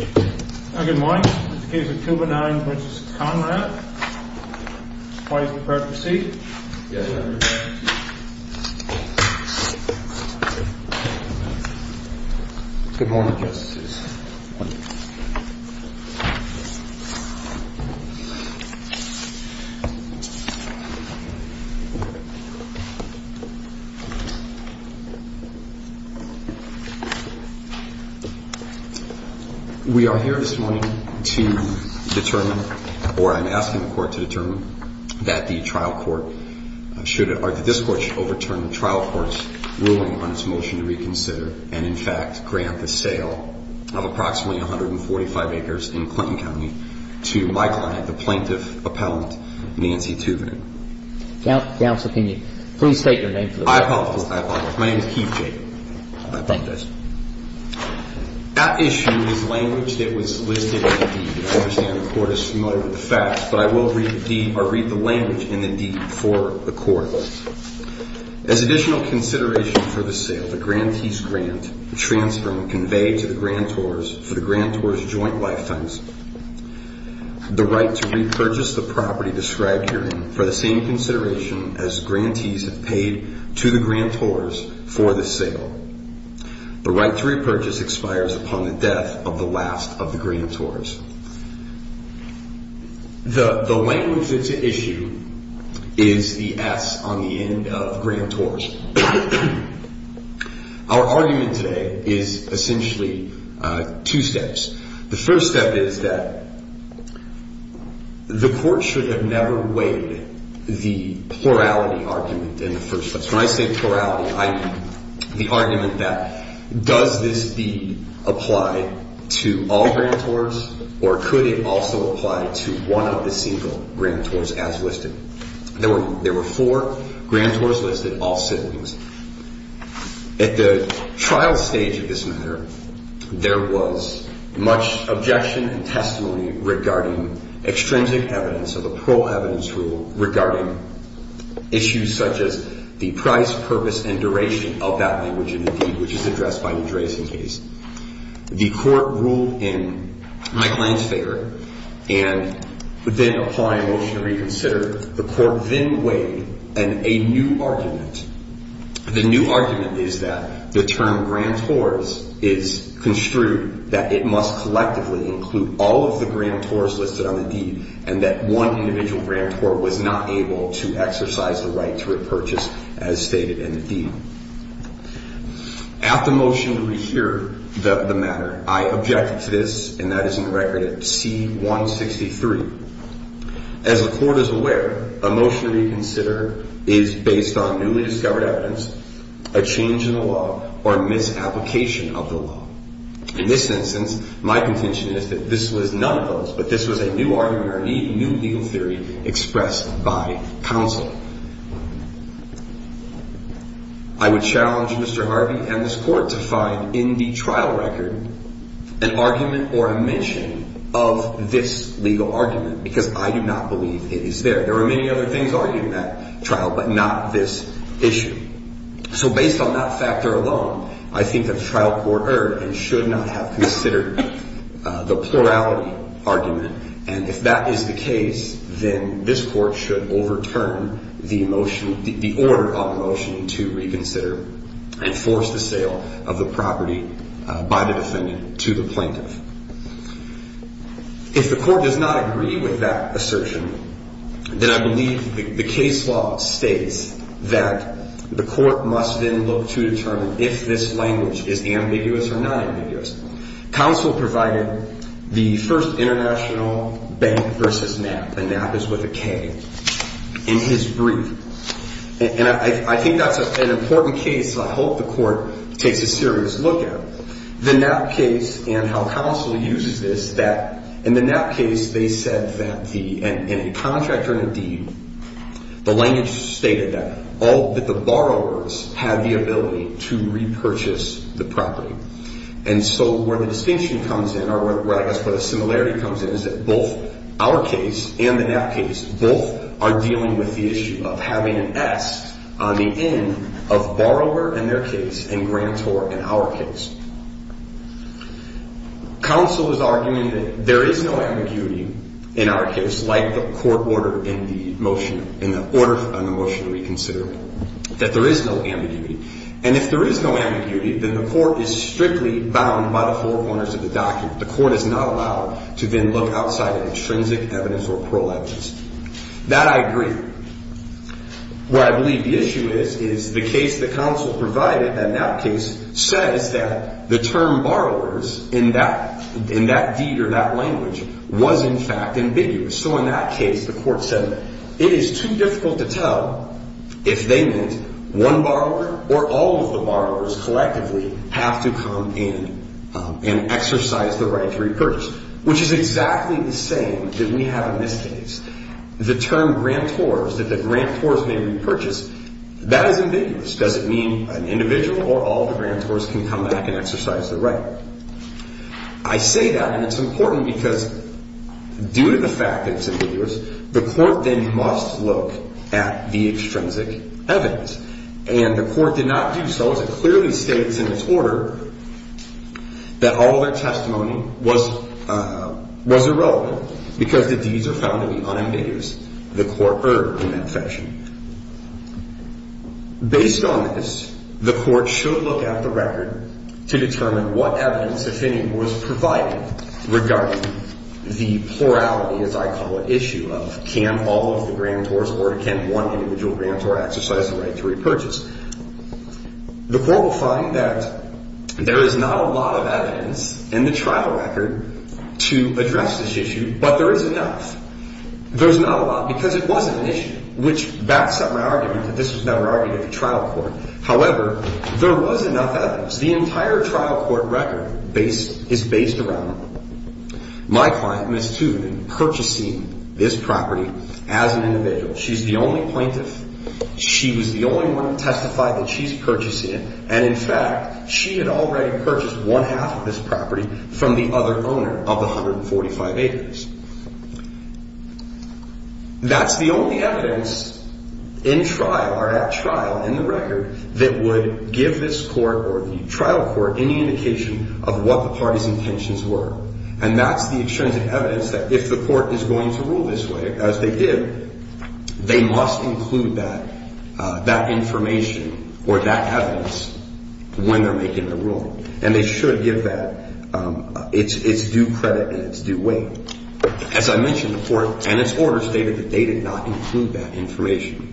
Good morning. This is the case of Thouvenin v. Conrad. Please be prepared to proceed. Good morning, Justices. We are here this morning to determine, or I'm asking the court to determine, that the trial court should, or that this court should overturn the trial court's ruling on its motion to reconsider and, in fact, grant the sale of approximately 145 acres in Clinton County to my client, the plaintiff appellant, Nancy Thouvenin. Counsel, can you please state your name for the record? I apologize, I apologize. My name is Keith Jacob. Thank you, Judge. That issue is language that was listed in the deed. I understand the court is familiar with the facts, but I will read the deed, or read the language in the deed for the court. As additional consideration for the sale, the grantee's grant transferring conveyed to the grantors for the grantors' joint lifetimes, the right to repurchase the property described herein for the same consideration as grantees have paid to the grantors for the sale. The right to repurchase expires upon the death of the last of the grantors. The language that's at issue is the S on the end of grantors. Our argument today is essentially two steps. The first step is that the court should have never weighed the plurality argument in the first place. When I say plurality, I mean the argument that does this deed apply to all grantors, or could it also apply to one of the single grantors as listed? There were four grantors listed, all siblings. At the trial stage of this matter, there was much objection and testimony regarding extrinsic evidence of a parole evidence rule regarding issues such as the price, purpose, and duration of that language in the deed, which is addressed by the Dresden case. The court ruled in my client's favor and then applied a motion to reconsider. The court then weighed a new argument. The new argument is that the term grantors is construed that it must collectively include all of the grantors listed on the deed and that one individual grantor was not able to exercise the right to repurchase as stated in the deed. At the motion to rehear the matter, I objected to this, and that is in the record at C-163. As the court is aware, a motion to reconsider is based on newly discovered evidence, a change in the law, or a misapplication of the law. In this instance, my contention is that this was none of those, but this was a new argument or a new legal theory expressed by counsel. I would challenge Mr. Harvey and this court to find in the trial record an argument or a mention of this legal argument, because I do not believe it is there. There are many other things argued in that trial, but not this issue. So based on that factor alone, I think that the trial court erred and should not have considered the plurality argument. And if that is the case, then this court should overturn the order of the motion to reconsider and force the sale of the property by the defendant to the plaintiff. If the court does not agree with that assertion, then I believe the case law states that the court must then look to determine if this language is ambiguous or non-ambiguous. Counsel provided the first international bank versus NAP, and NAP is with a K, in his brief. And I think that's an important case that I hope the court takes a serious look at. The NAP case and how counsel uses this, that in the NAP case, they said that in a contract or in a deed, the language stated that the borrowers have the ability to repurchase the property. And so where the distinction comes in, or I guess where the similarity comes in, is that both our case and the NAP case, both are dealing with the issue of having an S on the end of borrower in their case and grantor in our case. Counsel is arguing that there is no ambiguity in our case, like the court ordered in the motion, in the order on the motion to reconsider, that there is no ambiguity. And if there is no ambiguity, then the court is strictly bound by the four corners of the document. The court is not allowed to then look outside of intrinsic evidence or prolegis. That I agree. What I believe the issue is, is the case that counsel provided, that NAP case, says that the term borrowers in that deed or that language was, in fact, ambiguous. So in that case, the court said that it is too difficult to tell if they meant one borrower or all of the borrowers collectively have to come in and exercise the right to repurchase. Which is exactly the same that we have in this case. The term grantors, that the grantors may repurchase, that is ambiguous. Does it mean an individual or all the grantors can come back and exercise the right? I say that, and it's important, because due to the fact that it's ambiguous, the court then must look at the extrinsic evidence. And the court did not do so, as it clearly states in its order, that all their testimony was irrelevant, because the deeds are found to be unambiguous. The court erred in that fashion. Based on this, the court should look at the record to determine what evidence, if any, was provided regarding the plurality, as I call it, issue of can all of the grantors or can one individual grantor exercise the right to repurchase. The court will find that there is not a lot of evidence in the trial record to address this issue, but there is enough. There's not a lot, because it was an issue, which backs up my argument that this was never argued at the trial court. However, there was enough evidence. The entire trial court record is based around my client, Ms. Tooth, in purchasing this property as an individual. She's the only plaintiff. She was the only one to testify that she's purchasing it. And, in fact, she had already purchased one half of this property from the other owner of the 145 acres. That's the only evidence in trial, or at trial, in the record, that would give this court or the trial court any indication of what the party's intentions were. And that's the extrinsic evidence that if the court is going to rule this way, as they did, they must include that information or that evidence when they're making the rule. And they should give that its due credit in its due way. As I mentioned, the court and its order stated that they did not include that information.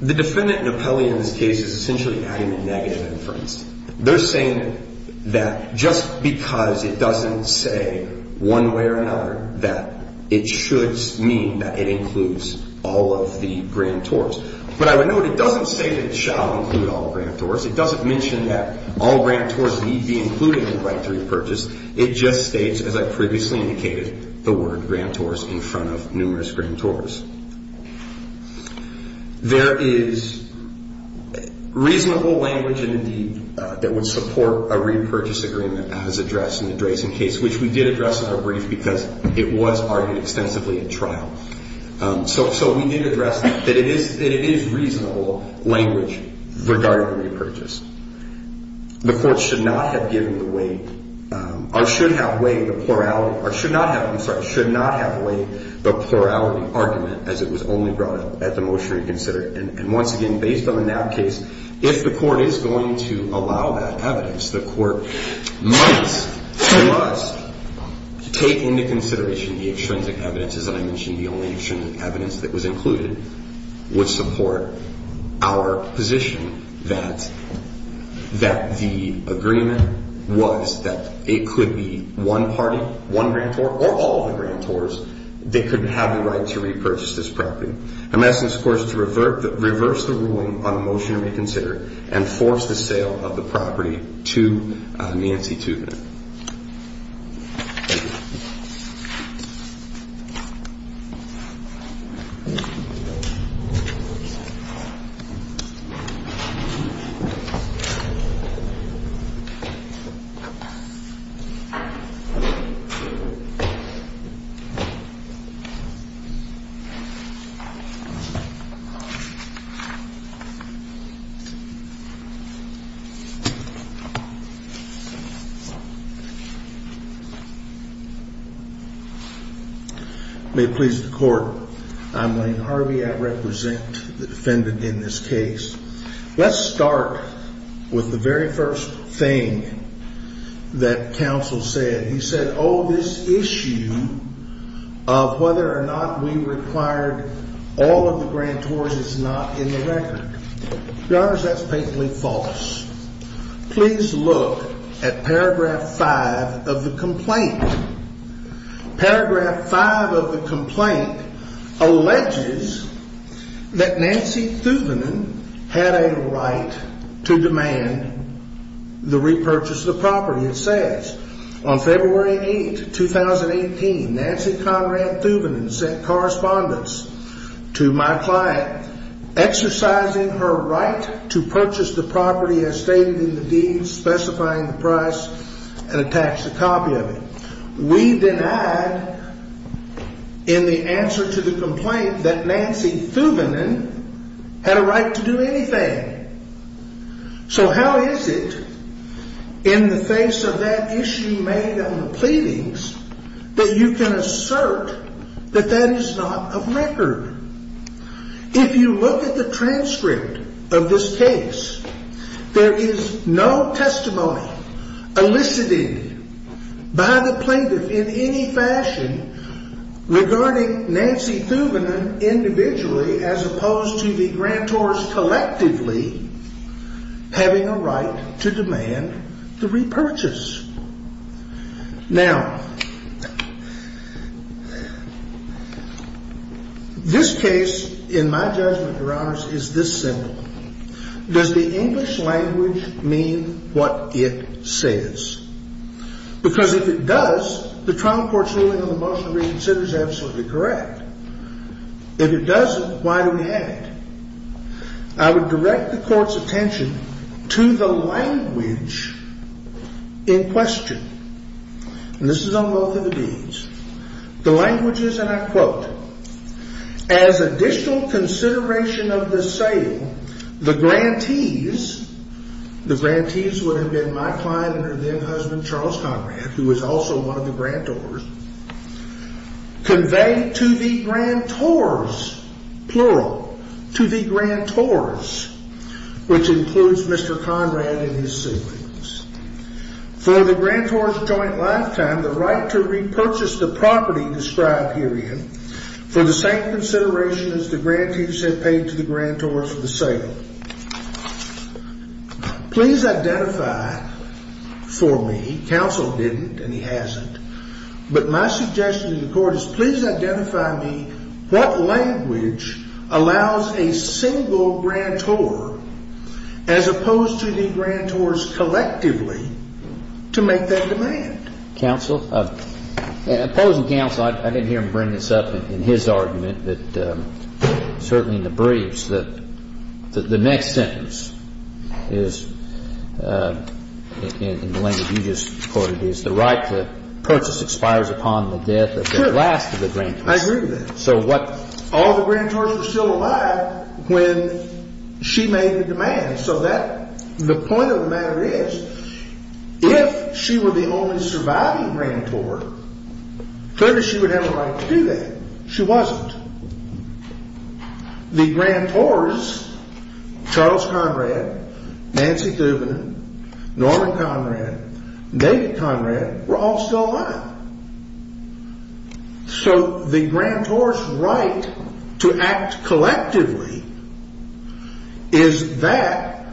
The defendant, Napoli, in this case, is essentially adding a negative inference. They're saying that just because it doesn't say one way or another, that it should mean that it includes all of the grand tours. But, I would note, it doesn't say that it shall include all grand tours. It doesn't mention that all grand tours need be included in the right to repurchase. It just states, as I previously indicated, the word grand tours in front of numerous grand tours. There is reasonable language, indeed, that would support a repurchase agreement as addressed in the Dresden case, which we did address in our brief because it was argued extensively at trial. So, we did address that it is reasonable language regarding repurchase. The court should not have given the way, or should have way, the plurality, or should not have, I'm sorry, should not have way, the plurality argument as it was only brought up at the motion reconsidered. And, once again, based on the NAB case, if the court is going to allow that evidence, the court must take into consideration the extrinsic evidence. As I mentioned, the only extrinsic evidence that was included would support our position that the agreement was that it could be one party, one grand tour, or all of the grand tours that could have the right to repurchase this property. I'm asking this court to reverse the ruling on the motion to reconsider and force the sale of the property to Nancy Tubman. May it please the court, I'm Lane Harvey, I represent the defendant in this case. Let's start with the very first thing that counsel said. He said, oh, this issue of whether or not we required all of the grand tours is not in the record. Your honors, that's blatantly false. Please look at paragraph five of the complaint. Paragraph five of the complaint alleges that Nancy Tubman had a right to demand the repurchase of the property. It says, on February 8th, 2018, Nancy Conrad Tubman sent correspondence to my client exercising her right to purchase the property as stated in the deed, specifying the price, and attached a copy of it. We denied in the answer to the complaint that Nancy Tubman had a right to do anything. So how is it, in the face of that issue made on the pleadings, that you can assert that that is not of record? If you look at the transcript of this case, there is no testimony elicited by the plaintiff in any fashion regarding Nancy Tubman individually as opposed to the grand tours collectively having a right to demand the repurchase. Now, this case, in my judgment, your honors, is this simple. Does the English language mean what it says? Because if it does, the trial court's ruling on the motion to reconsider is absolutely correct. If it doesn't, why do we have it? I would direct the court's attention to the language in question. And this is on both of the deeds. The language is, and I quote, as additional consideration of the sale, the grantees, the grantees would have been my client and her then husband, Charles Conrad, who was also one of the grand tours, convey to the grand tours, plural, to the grand tours, which includes Mr. Conrad and his siblings, for the grand tours joint lifetime, the right to repurchase the property described herein for the same consideration as the grantees had paid to the grand tours for the sale. Please identify for me, counsel didn't and he hasn't, but my suggestion to the court is please identify me what language allows a single grand tour as opposed to the grand tours collectively to make that demand. Opposing counsel, I didn't hear him bring this up in his argument, but certainly in the briefs, that the next sentence is, in the language you just quoted, is the right to purchase expires upon the death of the last of the grand tours. I agree with that. So all the grand tours were still alive when she made the demand. So the point of the matter is, if she were the only surviving grand tour, clearly she would have a right to do that. She wasn't. The grand tours, Charles Conrad, Nancy Thubanen, Norman Conrad, David Conrad, were all still alive. So the grand tours right to act collectively is that,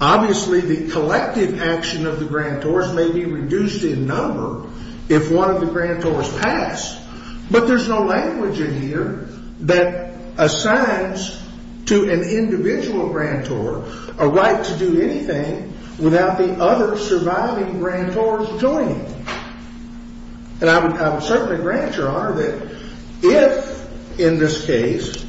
obviously the collective action of the grand tours may be reduced in number if one of the grand tours passed, but there's no language in here. That assigns to an individual grand tour a right to do anything without the other surviving grand tours doing it. And I would certainly grant your honor that if, in this case,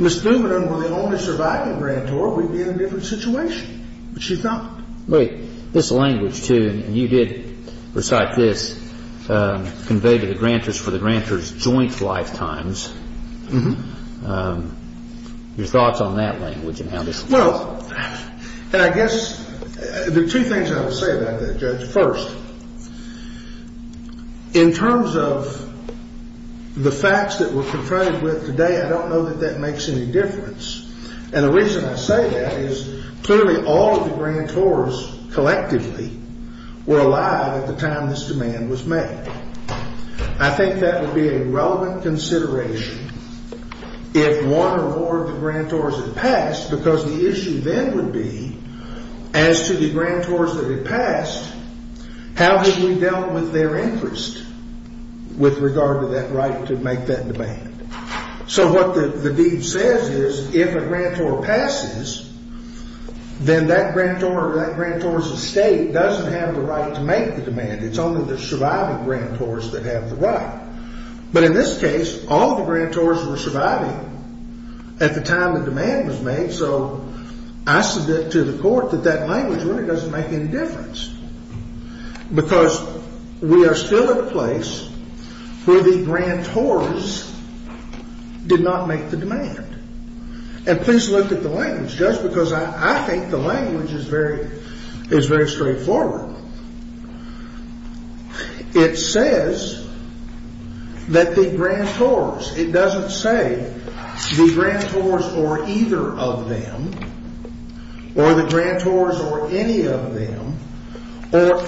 Ms. Thubanen were the only surviving grand tour, we'd be in a different situation. But she's not. Wait. This language, too, and you did recite this conveyed to the grantors for the grantors' joint lifetimes. Your thoughts on that language and how this relates? Well, I guess there are two things I would say about that, Judge. First, in terms of the facts that we're confronted with today, I don't know that that makes any difference. And the reason I say that is clearly all of the grand tours collectively were alive at the time this demand was made. I think that would be a relevant consideration if one or more of the grand tours had passed, because the issue then would be, as to the grand tours that had passed, how had we dealt with their interest with regard to that right to make that demand? So what the deed says is, if a grand tour passes, then that grand tour or that grand tour's estate doesn't have the right to make the demand. It's only the surviving grand tours that have the right. But in this case, all the grand tours were surviving at the time the demand was made. So I submit to the court that that language really doesn't make any difference, because we are still at a place where the grand tours did not make the demand. And please look at the language, Judge, because I think the language is very straightforward. It says that the grand tours, it doesn't say the grand tours or either of them, or the grand tours or any of them, or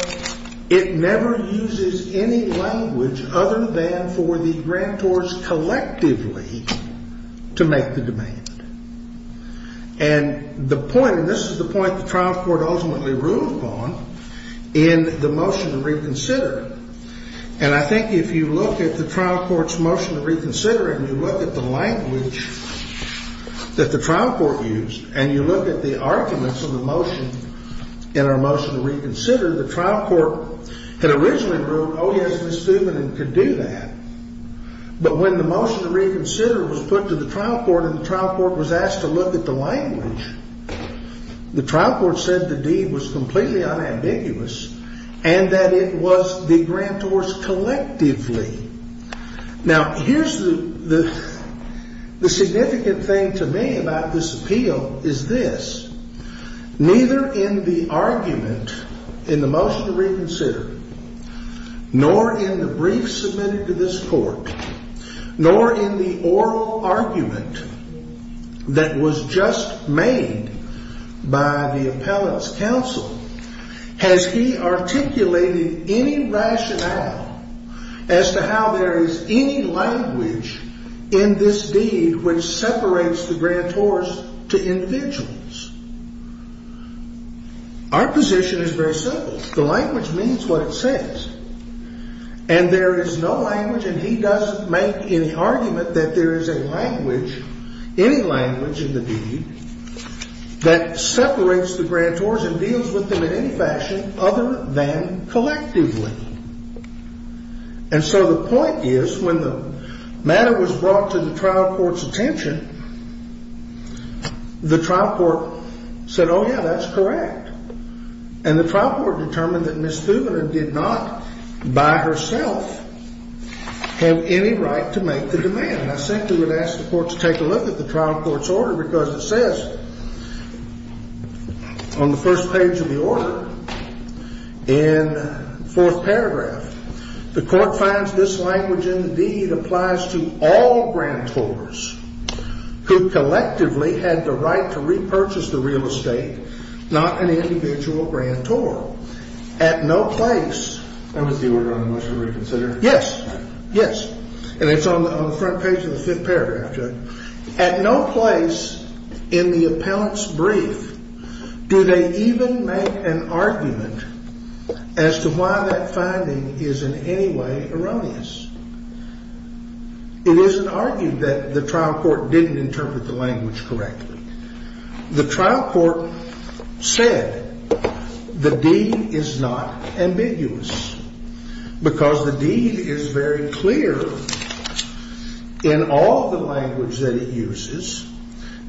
it never uses any language other than for the grand tours collectively to make the demand. And the point, and this is the point the trial court ultimately ruled on in the motion to reconsider. And I think if you look at the trial court's motion to reconsider and you look at the language that the trial court used, and you look at the arguments of the motion in our motion to reconsider, the trial court had originally ruled, oh, yes, Ms. Thuman could do that. But when the motion to reconsider was put to the trial court and the trial court was asked to look at the language, the trial court said the deed was completely unambiguous and that it was the grand tours collectively. Now, here's the significant thing to me about this appeal is this. Neither in the argument in the motion to reconsider, nor in the brief submitted to this court, nor in the oral argument that was just made by the appellant's counsel, has he articulated any rationale as to how there is any language in this deed which separates the grand tours to individuals. Our position is very simple. The language means what it says. And there is no language, and he doesn't make any argument that there is a language, any language in the deed, that separates the grand tours and deals with them in any fashion other than collectively. And so the point is when the matter was brought to the trial court's attention, the trial court said, oh, yeah, that's correct. And the trial court determined that Ms. Thuman did not, by herself, have any right to make the demand. I simply would ask the court to take a look at the trial court's order because it says on the first page of the order, in the fourth paragraph, the court finds this language in the deed applies to all grand tours who collectively had the right to repurchase the real estate, not an individual grand tour. At no place in the appellant's brief do they even make an argument as to why that finding is in any way erroneous. It isn't argued that the trial court didn't interpret the language correctly. The trial court said the deed is not ambiguous because the deed is very clear in all the language that it uses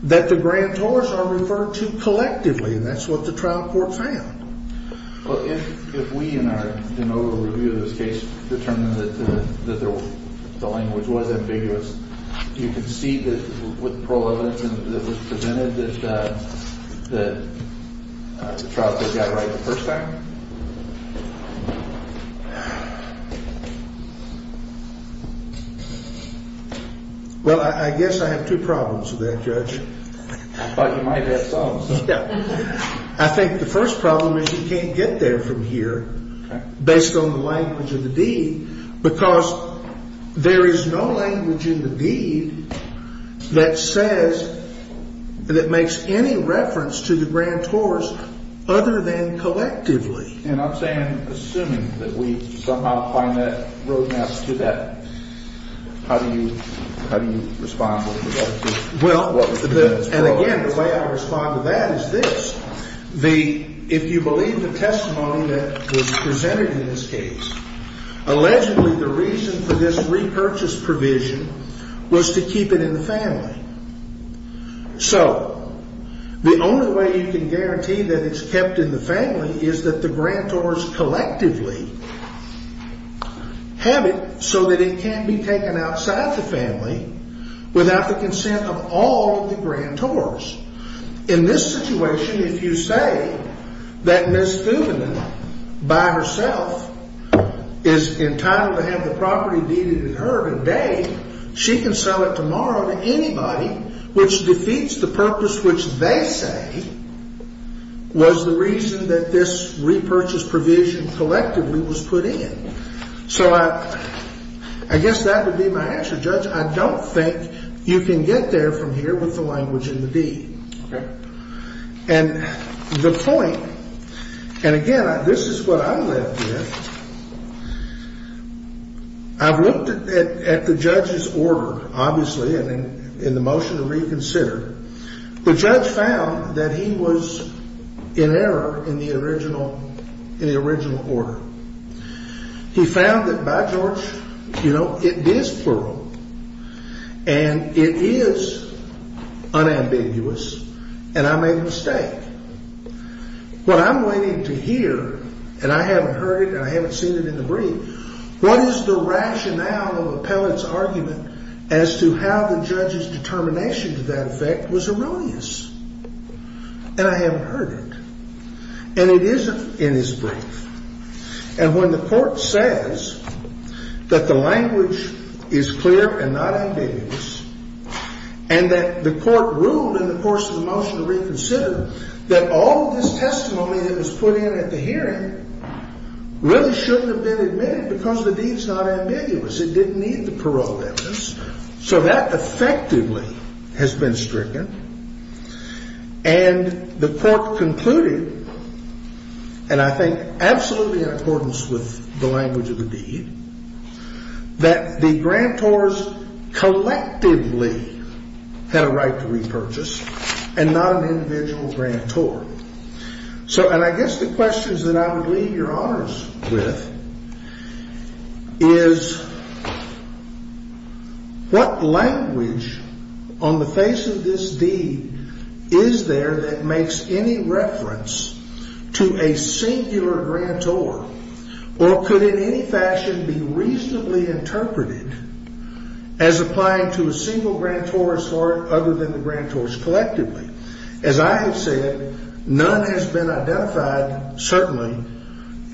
that the grand tours are referred to collectively, and that's what the trial court found. Well, if we in our de novo review of this case determined that the language was ambiguous, do you concede that with the parole evidence that was presented, that the trial court got it right the first time? Well, I guess I have two problems with that, Judge. I thought you might have some. I think the first problem is you can't get there from here based on the language of the deed because there is no language in the deed that says, that makes any reference to the grand tours other than collectively. And I'm saying, assuming that we somehow find that roadmap to that, how do you respond to that? Well, and again, the way I respond to that is this. If you believe the testimony that was presented in this case, allegedly the reason for this repurchase provision was to keep it in the family. So the only way you can guarantee that it's kept in the family is that the grand tours collectively have it so that it can't be taken outside the family without the consent of all the grand tours. In this situation, if you say that Ms. Fubina by herself is entitled to have the property deeded in her name, she can sell it tomorrow to anybody, which defeats the purpose which they say was the reason that this repurchase provision collectively was put in. So I guess that would be my answer. Judge, I don't think you can get there from here with the language in the deed. And the point, and again, this is what I'm left with, I've looked at the judge's order, obviously, and in the motion to reconsider. The judge found that he was in error in the original order. He found that by George, you know, it is plural, and it is unambiguous, and I made a mistake. What I'm waiting to hear, and I haven't heard it and I haven't seen it in the brief, what is the rationale of Appellant's argument as to how the judge's determination to that effect was erroneous? And I haven't heard it. And it isn't in his brief. And when the court says that the language is clear and not ambiguous, and that the court ruled in the course of the motion to reconsider that all of this testimony that was put in at the hearing really shouldn't have been admitted because the deed's not ambiguous, it didn't need the parole evidence. So that effectively has been stricken. And the court concluded, and I think absolutely in accordance with the language of the deed, that the grantors collectively had a right to repurchase and not an individual grantor. So, and I guess the questions that I would leave your honors with is what language on the face of this deed is there that makes any reference to a singular grantor? Or could in any fashion be reasonably interpreted as applying to a single grantor or other than the grantors collectively? As I have said, none has been identified, certainly,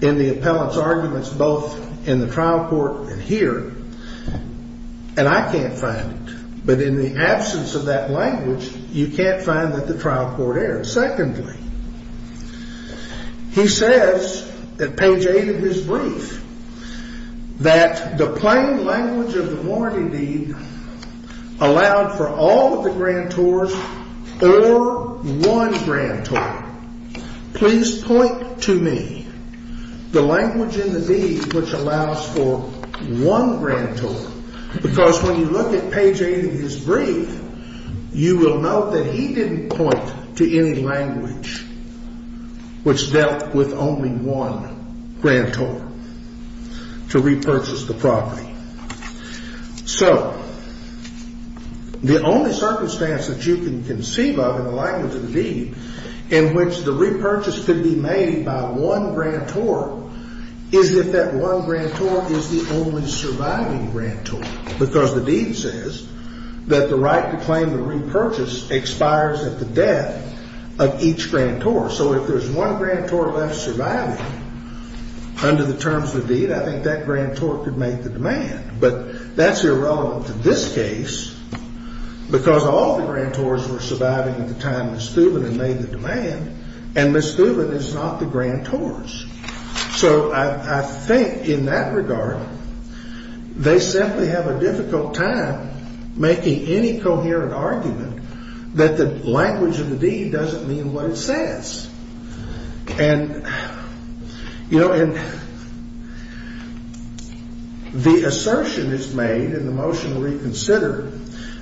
in the Appellant's arguments both in the trial court and here. And I can't find it. But in the absence of that language, you can't find that the trial court errors. Secondly, he says at page 8 of his brief that the plain language of the warranty deed allowed for all of the grantors or one grantor. Please point to me the language in the deed which allows for one grantor. Because when you look at page 8 of his brief, you will note that he didn't point to any language which dealt with only one grantor to repurchase the property. So the only circumstance that you can conceive of in the language of the deed in which the repurchase could be made by one grantor is if that one grantor is the only surviving grantor. Because the deed says that the right to claim the repurchase expires at the death of each grantor. So if there's one grantor left surviving under the terms of the deed, I think that grantor could make the demand. But that's irrelevant to this case because all the grantors were surviving at the time Ms. Thuban had made the demand, and Ms. Thuban is not the grantors. So I think in that regard, they simply have a difficult time making any coherent argument that the language of the deed doesn't mean what it says. And, you know, the assertion is made in the motion to reconsider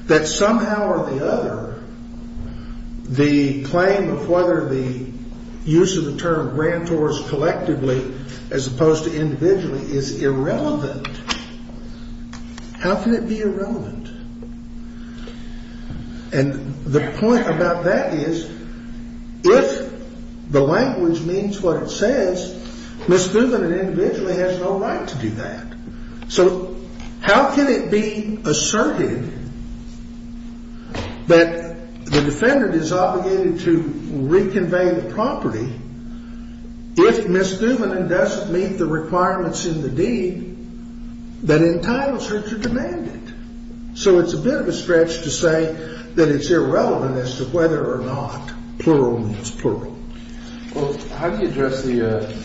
that somehow or the other, the claim of whether the use of the term grantors collectively as opposed to individually is irrelevant. How can it be irrelevant? And the point about that is if the language means what it says, Ms. Thuban and individually has no right to do that. So how can it be asserted that the defendant is obligated to reconvey the property if Ms. Thuban doesn't meet the requirements in the deed that entitles her to demand it? So it's a bit of a stretch to say that it's irrelevant as to whether or not plural means plural. Well, how do you address the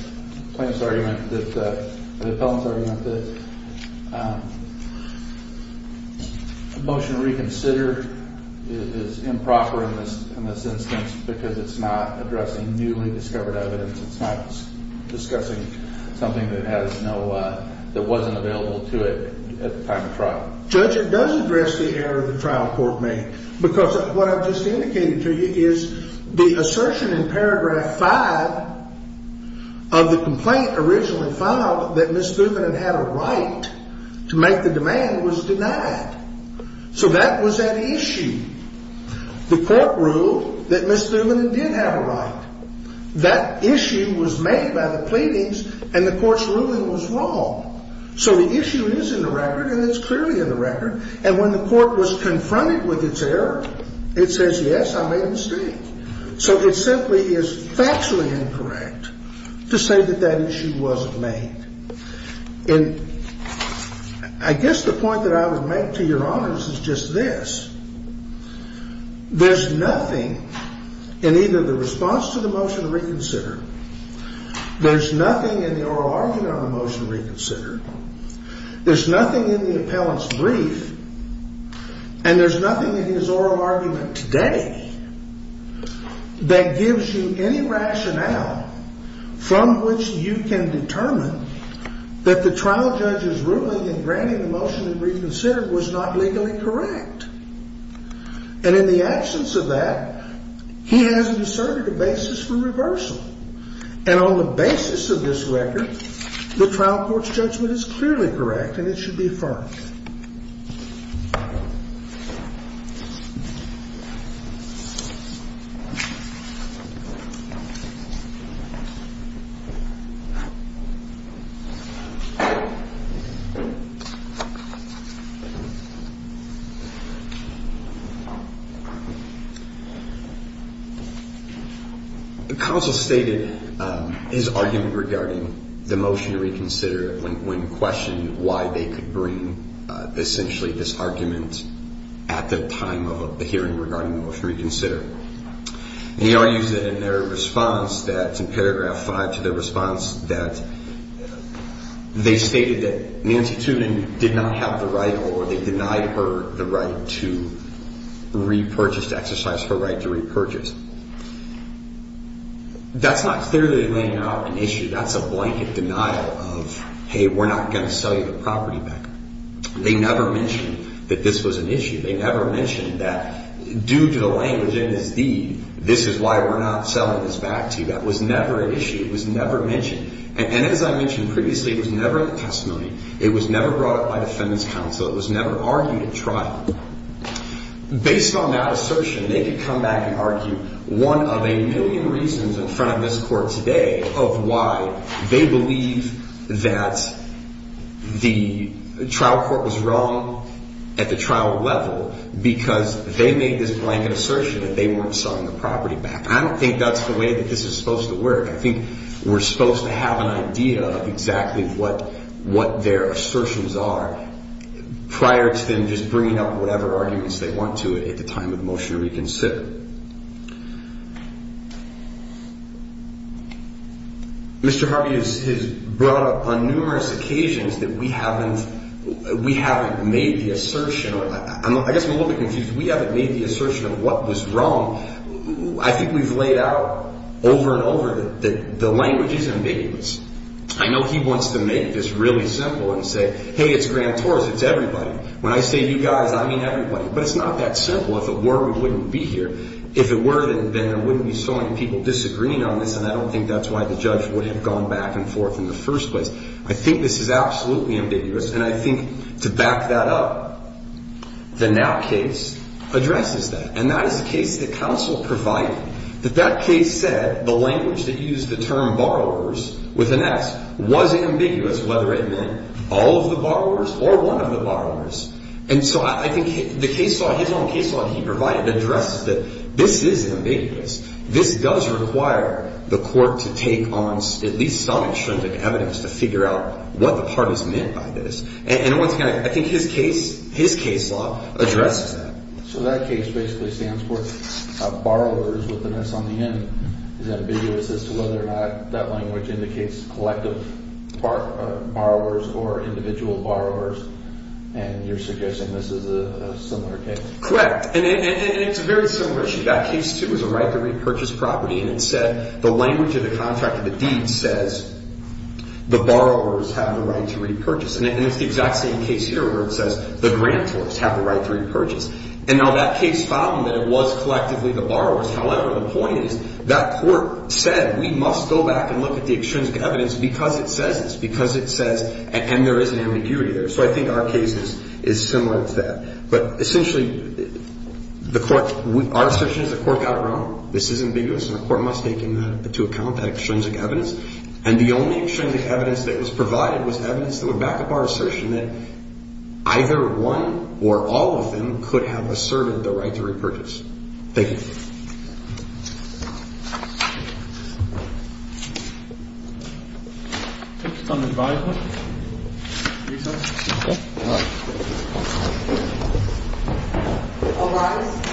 plaintiff's argument that – the appellant's argument that the motion to reconsider is improper in this instance because it's not addressing newly discovered evidence? It's not discussing something that has no – that wasn't available to it at the time of trial? Judge, it does address the error the trial court made because what I've just indicated to you is the assertion in paragraph 5 of the complaint originally filed that Ms. Thuban had a right to make the demand was denied. So that was at issue. The court ruled that Ms. Thuban did have a right. That issue was made by the pleadings and the court's ruling was wrong. So the issue is in the record and it's clearly in the record. And when the court was confronted with its error, it says, yes, I made a mistake. So it simply is factually incorrect to say that that issue wasn't made. And I guess the point that I would make to your honors is just this. There's nothing in either the response to the motion to reconsider, there's nothing in the oral argument on the motion to reconsider, there's nothing in the appellant's brief, and there's nothing in his oral argument today that gives you any rationale from which you can determine that the trial judge's ruling in granting the motion to reconsider was not legally correct. And in the absence of that, he has inserted a basis for reversal. And on the basis of this record, the trial court's judgment is clearly correct and it should be affirmed. The counsel stated his argument regarding the motion to reconsider when questioned why they could bring the motion to reconsider. And he argues that in their response that in paragraph five to their response that they stated that Nancy Tudin did not have the right or they denied her the right to repurchase, to exercise her right to repurchase. That's not clearly laying out an issue. That's a blanket denial of, hey, we're not going to sell you the property back. They never mentioned that this was an issue. They never mentioned that due to the language in his deed, this is why we're not selling this back to you. That was never an issue. It was never mentioned. And as I mentioned previously, it was never in the testimony. It was never brought up by defendant's counsel. It was never argued at trial. Based on that assertion, they could come back and argue one of a million reasons in front of this court today of why they believe that the trial court was wrong at the trial level because they made this blanket assertion that they weren't selling the property back. I don't think that's the way that this is supposed to work. I think we're supposed to have an idea of exactly what their assertions are prior to them just bringing up whatever arguments they want to at the time of the motion to reconsider. Mr. Harvey has brought up on numerous occasions that we haven't made the assertion. I guess I'm a little bit confused. We haven't made the assertion of what was wrong. I think we've laid out over and over that the language is ambiguous. I know he wants to make this really simple and say, hey, it's grand tours. It's everybody. When I say you guys, I mean everybody. But it's not that simple. If it were, we wouldn't be here. If it were, then there wouldn't be so many people disagreeing on this, and I don't think that's why the judge would have gone back and forth in the first place. I think this is absolutely ambiguous, and I think to back that up, the Now case addresses that. And that is the case that counsel provided, that that case said the language that used the term borrowers with an S was ambiguous whether it meant all of the borrowers or one of the borrowers. And so I think the case law, his own case law that he provided addresses that this is ambiguous. This does require the court to take on at least some extrinsic evidence to figure out what the part is meant by this. And once again, I think his case law addresses that. So that case basically stands for borrowers with an S on the end is ambiguous as to whether or not that language indicates collective borrowers or individual borrowers. And you're suggesting this is a similar case. Correct. And it's a very similar issue. That case too was a right to repurchase property, and it said the language of the contract of the deed says the borrowers have the right to repurchase. And it's the exact same case here where it says the grantors have the right to repurchase. And now that case found that it was collectively the borrowers. However, the point is that court said we must go back and look at the extrinsic evidence because it says this, because it says and there is an ambiguity there. So I think our case is similar to that. But essentially, the court – our assertion is the court got it wrong. This is ambiguous, and the court must take into account that extrinsic evidence. And the only extrinsic evidence that was provided was evidence that would back up our assertion that either one or all of them could have asserted the right to repurchase. Thank you.